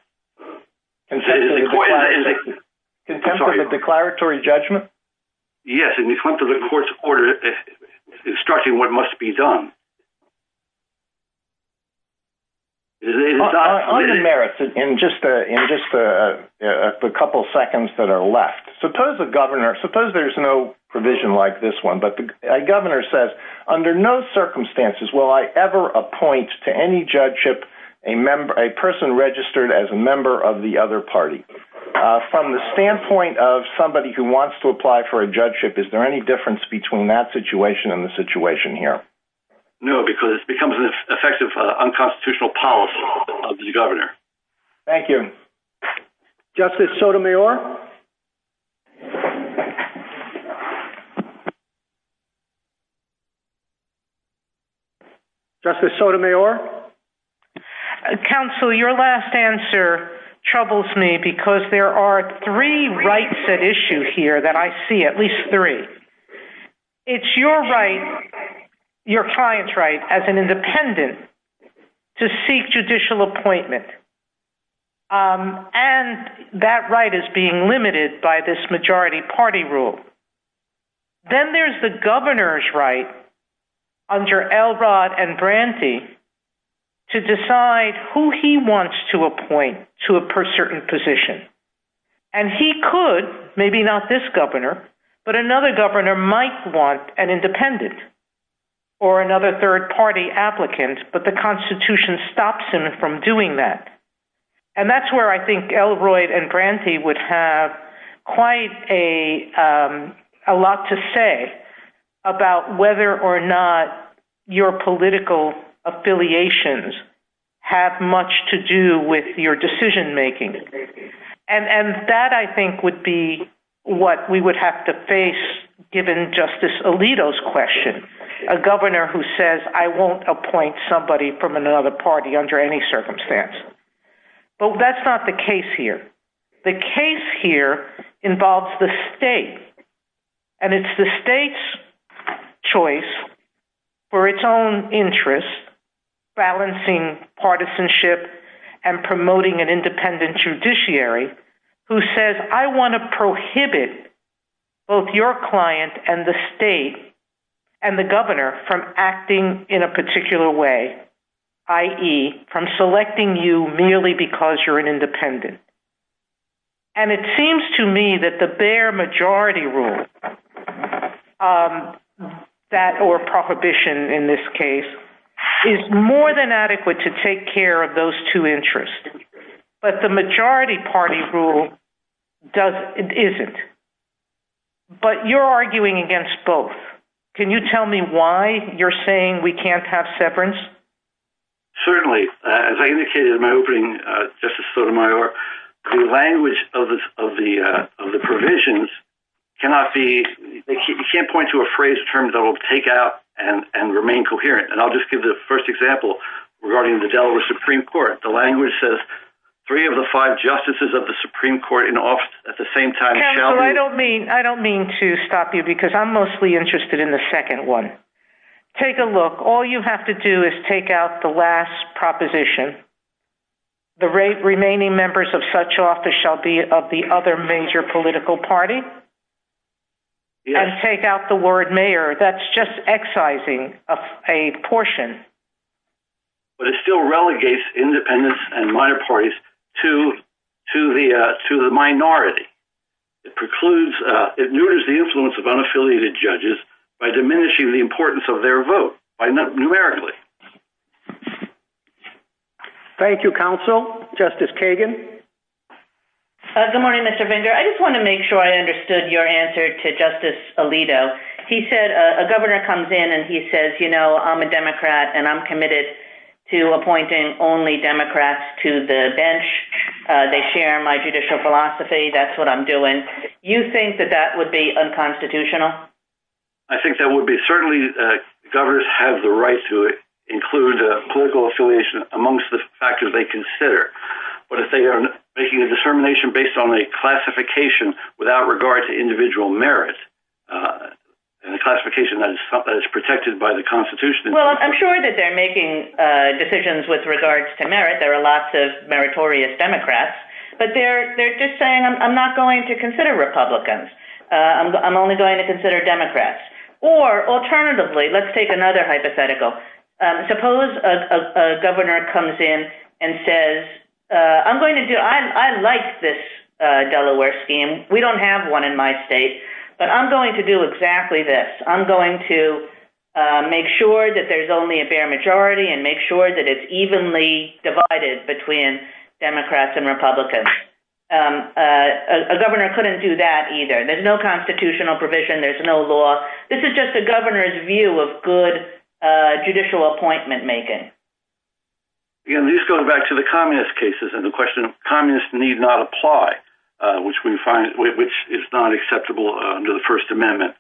In contempt of the declaratory judgment? Yes, in contempt of the court's order instructing what must be done. On the merits, in just the couple seconds that are left, suppose there's no provision like this one, but the governor says, under no circumstances will I ever appoint to any judgeship a person registered as a member of the other party. From the standpoint of somebody who wants to apply for a judgeship, is there any difference between that situation and the situation here? No, because it becomes an effective unconstitutional policy of the governor. Thank you. Justice Sotomayor? Counsel, your last answer troubles me because there are three rights at issue here that I see, at least three. It's your right, your client's right, as an independent, to seek judicial appointment. And that right is being limited by this majority party rule. Then there's the governor's right, under Elrod and Branty, to decide who he wants to appoint to a certain position. And he could, maybe not this governor, but another governor might want an independent or another third party applicant, but the Constitution stops him from doing that. And that's where I think Elrod and Branty would have quite a lot to say about whether or not your political affiliations have much to do with your decision making. And that, I think, would be what we would have to face given Justice Alito's question, a governor who says, I won't appoint somebody from another party under any circumstance. But that's not the case here. The case here involves the state. And it's the state's choice, for its own interest, balancing partisanship and promoting an independent judiciary, who says, I want to prohibit both your client and the state and the governor from acting in a particular way, i.e., from selecting you merely because you're an independent. And it seems to me that the bare majority rule, that or prohibition in this case, is more than adequate to take care of those two interests. But the majority party rule isn't. But you're arguing against both. Can you tell me why you're saying we can't have severance? Certainly. As I indicated in my opening, Justice Sotomayor, the language of the provisions cannot be – you can't point to a phrase or term that will take out and remain coherent. And I'll just give the first example regarding the Delaware Supreme Court. The language says three of the five justices of the Supreme Court in office at the same time shall be – Counsel, I don't mean to stop you because I'm mostly interested in the second one. Take a look. All you have to do is take out the last proposition. The remaining members of such office shall be of the other major political party. And take out the word mayor. That's just excising a portion. But it still relegates independents and minor parties to the minority. It precludes – it neuters the influence of unaffiliated judges by diminishing the importance of their vote numerically. Thank you, Counsel. Justice Kagan? Good morning, Mr. Finger. I just want to make sure I understood your answer to Justice Alito. He said a governor comes in and he says, you know, I'm a Democrat and I'm committed to appointing only Democrats to the bench. They share my judicial philosophy. That's what I'm doing. You think that that would be unconstitutional? I think that would be – certainly, governors have the right to include political affiliation amongst the factors they consider. But if they are making a determination based on a classification without regard to individual merit, and a classification that is protected by the Constitution – Well, I'm sure that they're making decisions with regards to merit. There are lots of meritorious Democrats. But they're just saying, I'm not going to consider Republicans. I'm only going to consider Democrats. Or, alternatively, let's take another hypothetical. Suppose a governor comes in and says, I'm going to do – I like this Delaware scheme. We don't have one in my state. But I'm going to do exactly this. I'm going to make sure that there's only a fair majority and make sure that it's evenly divided between Democrats and Republicans. A governor couldn't do that either. There's no constitutional provision. There's no law. This is just a governor's view of good judicial appointment making. Again, this goes back to the communist cases and the question of communists need not apply, which we find is not acceptable under the First Amendment.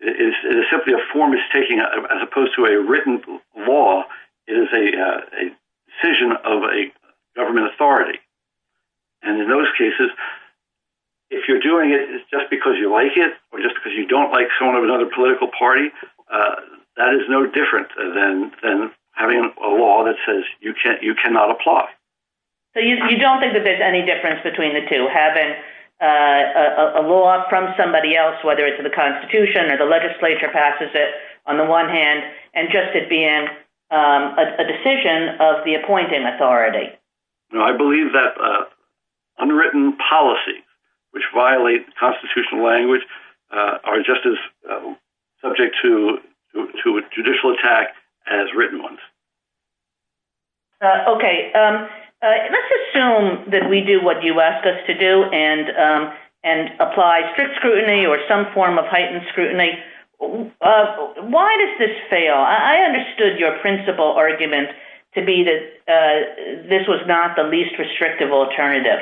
It is simply a form of taking, as opposed to a written law. It is a decision of a government authority. And in those cases, if you're doing it just because you like it or just because you don't like someone of another political party, that is no different than having a law that says you cannot apply. So you don't think that there's any difference between the two, having a law from somebody else, whether it's the Constitution or the legislature passes it, on the one hand, and just it being a decision of the appointing authority. I believe that unwritten policies which violate the constitutional language are just as subject to a judicial attack as written ones. Okay. Let's assume that we do what you ask us to do and apply strict scrutiny or some form of heightened scrutiny. Why does this fail? I understood your principle argument to be that this was not the least restrictive alternative.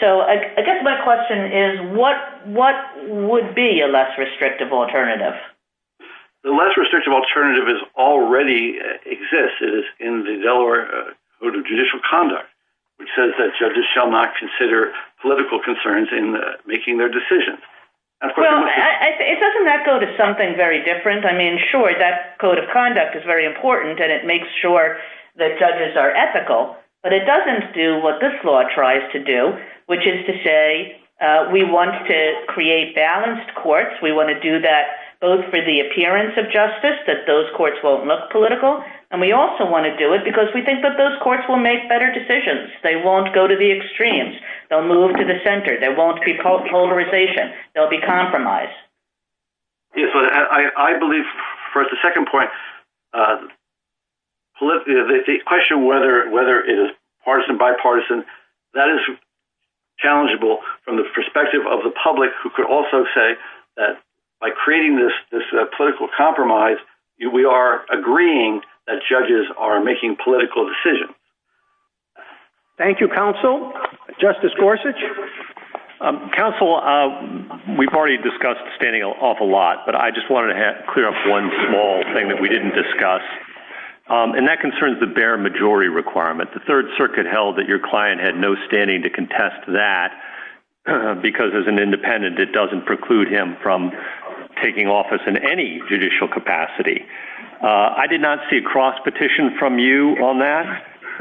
So I guess my question is, what would be a less restrictive alternative? The less restrictive alternative already exists. It is in the Delaware Code of Judicial Conduct, which says that judges shall not consider political concerns in making their decisions. Well, doesn't that go to something very different? I mean, sure, that Code of Conduct is very important, and it makes sure that judges are ethical, but it doesn't do what this law tries to do, which is to say we want to create balanced courts. We want to do that both for the appearance of justice, that those courts won't look political, and we also want to do it because we think that those courts will make better decisions. They won't go to the extremes. They'll move to the center. There won't be polarization. There'll be compromise. I believe, for the second point, the question whether it is partisan, bipartisan, that is challengeable from the perspective of the public who could also say that by creating this political compromise, we are agreeing that judges are making political decisions. Thank you, counsel. Justice Gorsuch? Counsel, we've already discussed standing off a lot, but I just wanted to clear up one small thing that we didn't discuss, and that concerns the bare majority requirement. The Third Circuit held that your client had no standing to contest that because, as an independent, it doesn't preclude him from taking office in any judicial capacity. I did not see a cross-petition from you on that.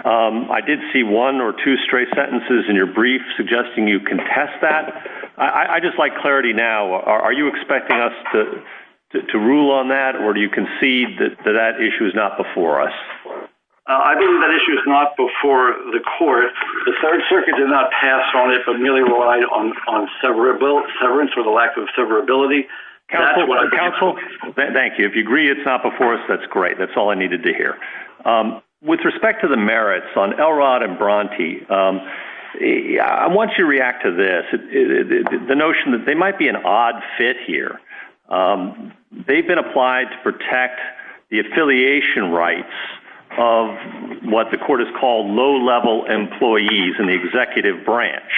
I did see one or two straight sentences in your brief suggesting you contest that. I'd just like clarity now. Are you expecting us to rule on that, or do you concede that that issue is not before us? I believe that issue is not before the court. The Third Circuit did not pass on it, but merely relied on severance or the lack of severability. Counsel, thank you. If you agree it's not before us, that's great. That's all I needed to hear. With respect to the merits on Elrod and Bronte, I want you to react to this, the notion that they might be an odd fit here. They've been applied to protect the affiliation rights of what the court has called low-level employees in the executive branch.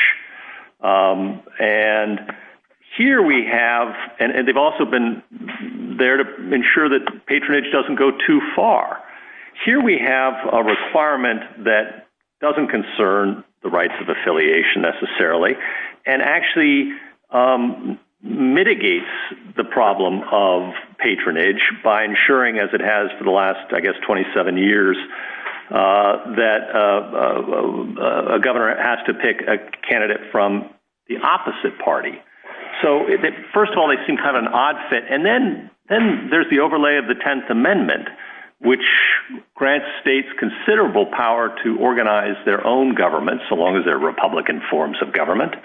And they've also been there to ensure that patronage doesn't go too far. Here we have a requirement that doesn't concern the rights of affiliation necessarily and actually mitigates the problem of patronage by ensuring, as it has for the last, I guess, 27 years, that a governor has to pick a candidate from the opposite party. So, first of all, they seem kind of an odd fit. And then there's the overlay of the Tenth Amendment, which grants states considerable power to organize their own government, so long as they're Republican forms of government.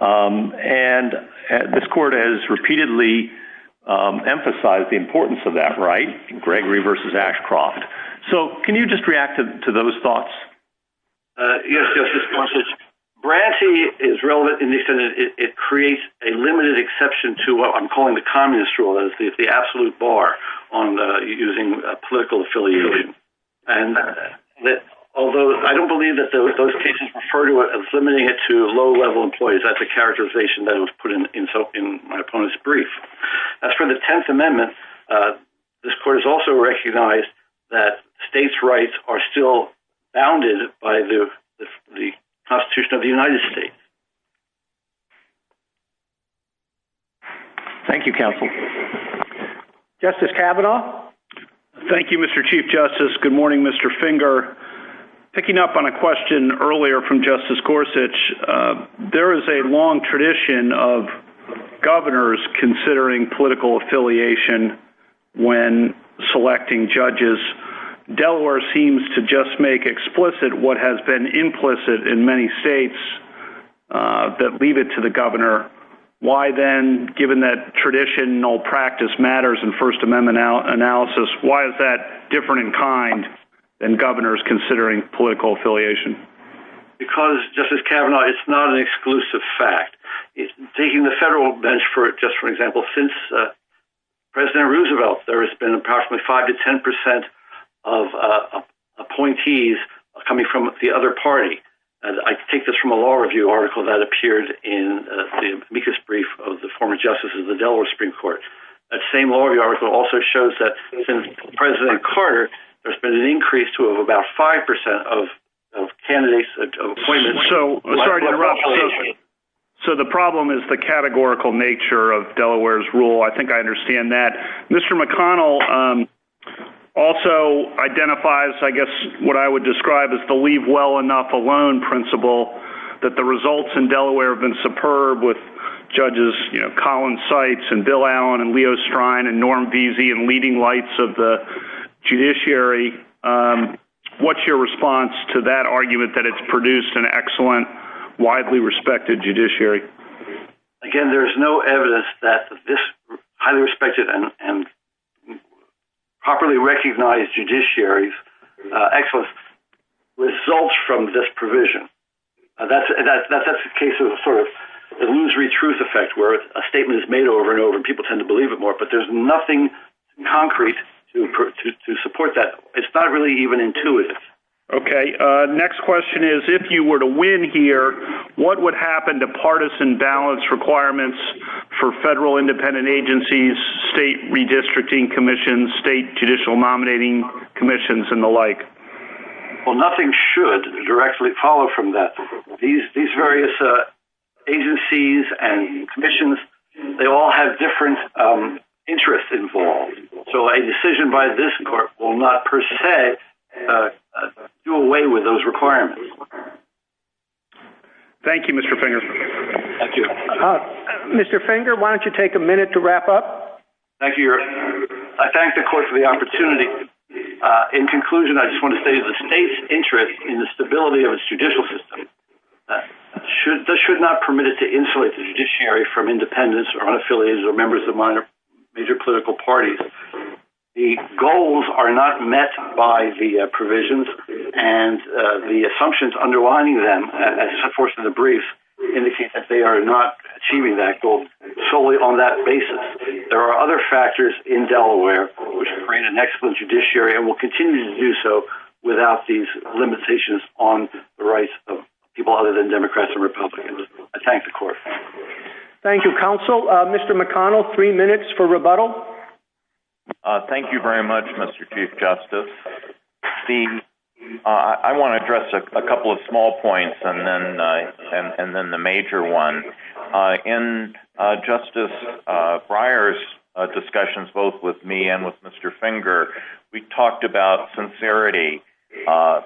And this court has repeatedly emphasized the importance of that right, Gregory v. Ashcroft. So, can you just react to those thoughts? Yes, Justice Gorsuch. Bronte is relevant in the extent that it creates a limited exception to what I'm calling the communist rule. It's the absolute bar on using political affiliation. And although I don't believe that those cases refer to it as limiting it to low-level employees, that's a characterization that was put in my opponent's brief. As for the Tenth Amendment, this court has also recognized that states' rights are still bounded by the Constitution of the United States. Thank you, counsel. Justice Kavanaugh. Thank you, Mr. Chief Justice. Good morning, Mr. Finger. Picking up on a question earlier from Justice Gorsuch, there is a long tradition of governors considering political affiliation when selecting judges. Delaware seems to just make explicit what has been implicit in many states that leave it to the governor. Why then, given that traditional practice matters in First Amendment analysis, why is that different in kind than governors considering political affiliation? Because, Justice Kavanaugh, it's not an exclusive fact. Taking the federal bench, just for example, since President Roosevelt, there has been approximately 5 to 10 percent of appointees coming from the other party. I take this from a law review article that appeared in the amicus brief of the former justice of the Delaware Supreme Court. That same law review article also shows that since President Carter, there's been an increase to about 5 percent of candidates' appointments. I'm sorry to interrupt. The problem is the categorical nature of Delaware's rule. I think I understand that. Mr. McConnell also identifies, I guess what I would describe as the leave well enough alone principle, that the results in Delaware have been superb with Judges Collins-Seitz, and Bill Allen, and Leo Strine, and Norm Veazey in leading lights of the judiciary. What's your response to that argument that it's produced an excellent, widely respected judiciary? Again, there's no evidence that this highly respected and properly recognized judiciary's excellence results from this provision. That's a case of a sort of illusory truth effect where a statement is made over and over, and people tend to believe it more, but there's nothing concrete to support that. It's not really even intuitive. Okay. Next question is, if you were to win here, what would happen to partisan balance requirements for federal independent agencies, state redistricting commissions, state judicial nominating commissions, and the like? Well, nothing should directly follow from that. These various agencies and commissions, they all have different interests involved. So a decision by this court will not per se do away with those requirements. Thank you, Mr. Finger. Thank you. Mr. Finger, why don't you take a minute to wrap up? Thank you. I thank the court for the opportunity. In conclusion, I just want to say the state's interest in the stability of its judicial system should not permit it to insulate the judiciary from independents or unaffiliated or members of major political parties. The goals are not met by the provisions, and the assumptions underlining them, as enforced in the brief, indicate that they are not achieving that goal solely on that basis. There are other factors in Delaware which create an excellent judiciary and will continue to do so without these limitations on the rights of people other than Democrats and Republicans. I thank the court. Thank you, counsel. Mr. McConnell, three minutes for rebuttal. Thank you very much, Mr. Chief Justice. I want to address a couple of small points and then the major one. In Justice Breyer's discussions both with me and with Mr. Finger, we talked about sincerity, and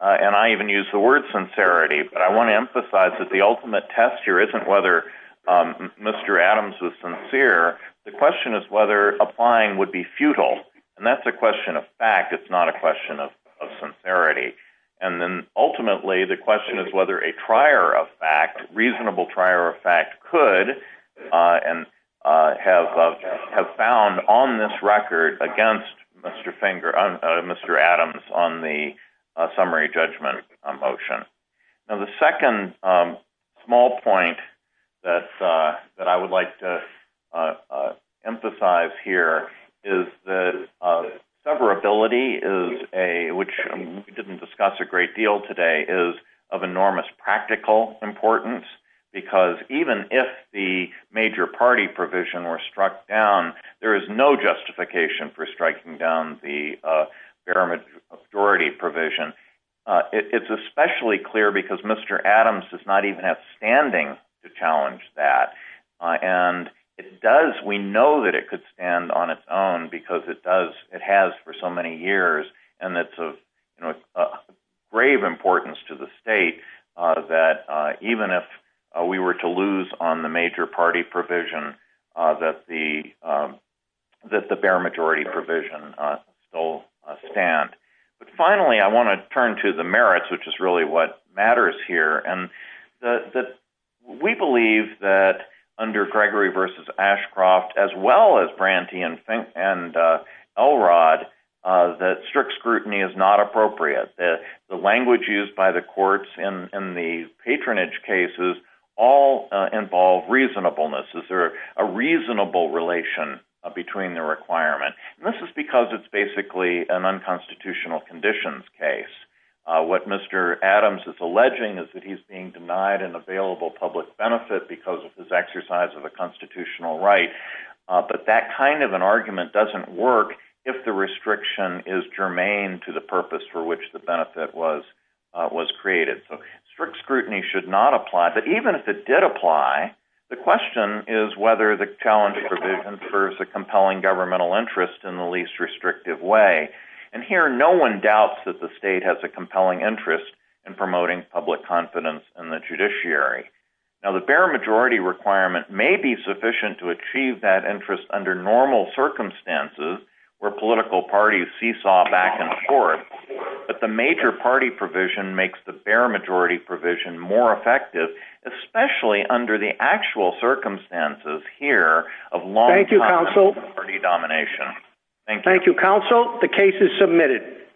I even used the word sincerity, but I want to emphasize that the ultimate test here isn't whether Mr. Adams was sincere. The question is whether applying would be futile, and that's a question of fact. It's not a question of sincerity. Ultimately, the question is whether a trier of fact, reasonable trier of fact, could and have found on this record against Mr. Adams on the summary judgment motion. Now, the second small point that I would like to emphasize here is that severability, which we didn't discuss a great deal today, is of enormous practical importance because even if the major party provision were struck down, there is no justification for striking down the bare majority provision. It's especially clear because Mr. Adams does not even have standing to challenge that, and we know that it could stand on its own because it has for so many years, and it's of grave importance to the state that even if we were to lose on the major party provision, that the bare majority provision still stand. Finally, I want to turn to the merits, which is really what matters here. We believe that under Gregory v. Ashcroft, as well as Branty and Elrod, that strict scrutiny is not appropriate. The language used by the courts in the patronage cases all involve reasonableness. Is there a reasonable relation between the requirement? This is because it's basically an unconstitutional conditions case. What Mr. Adams is alleging is that he's being denied an available public benefit because of his exercise of a constitutional right, but that kind of an argument doesn't work if the restriction is germane to the purpose for which the benefit was created. So strict scrutiny should not apply, but even if it did apply, the question is whether the challenge provision serves a compelling governmental interest in the least restrictive way. And here, no one doubts that the state has a compelling interest in promoting public confidence in the judiciary. Now, the bare majority requirement may be sufficient to achieve that interest under normal circumstances where political parties seesaw back and forth, but the major party provision makes the bare majority provision more effective, especially under the actual circumstances here of long-time party domination. Thank you, counsel. Thank you. Thank you, counsel. The case is submitted.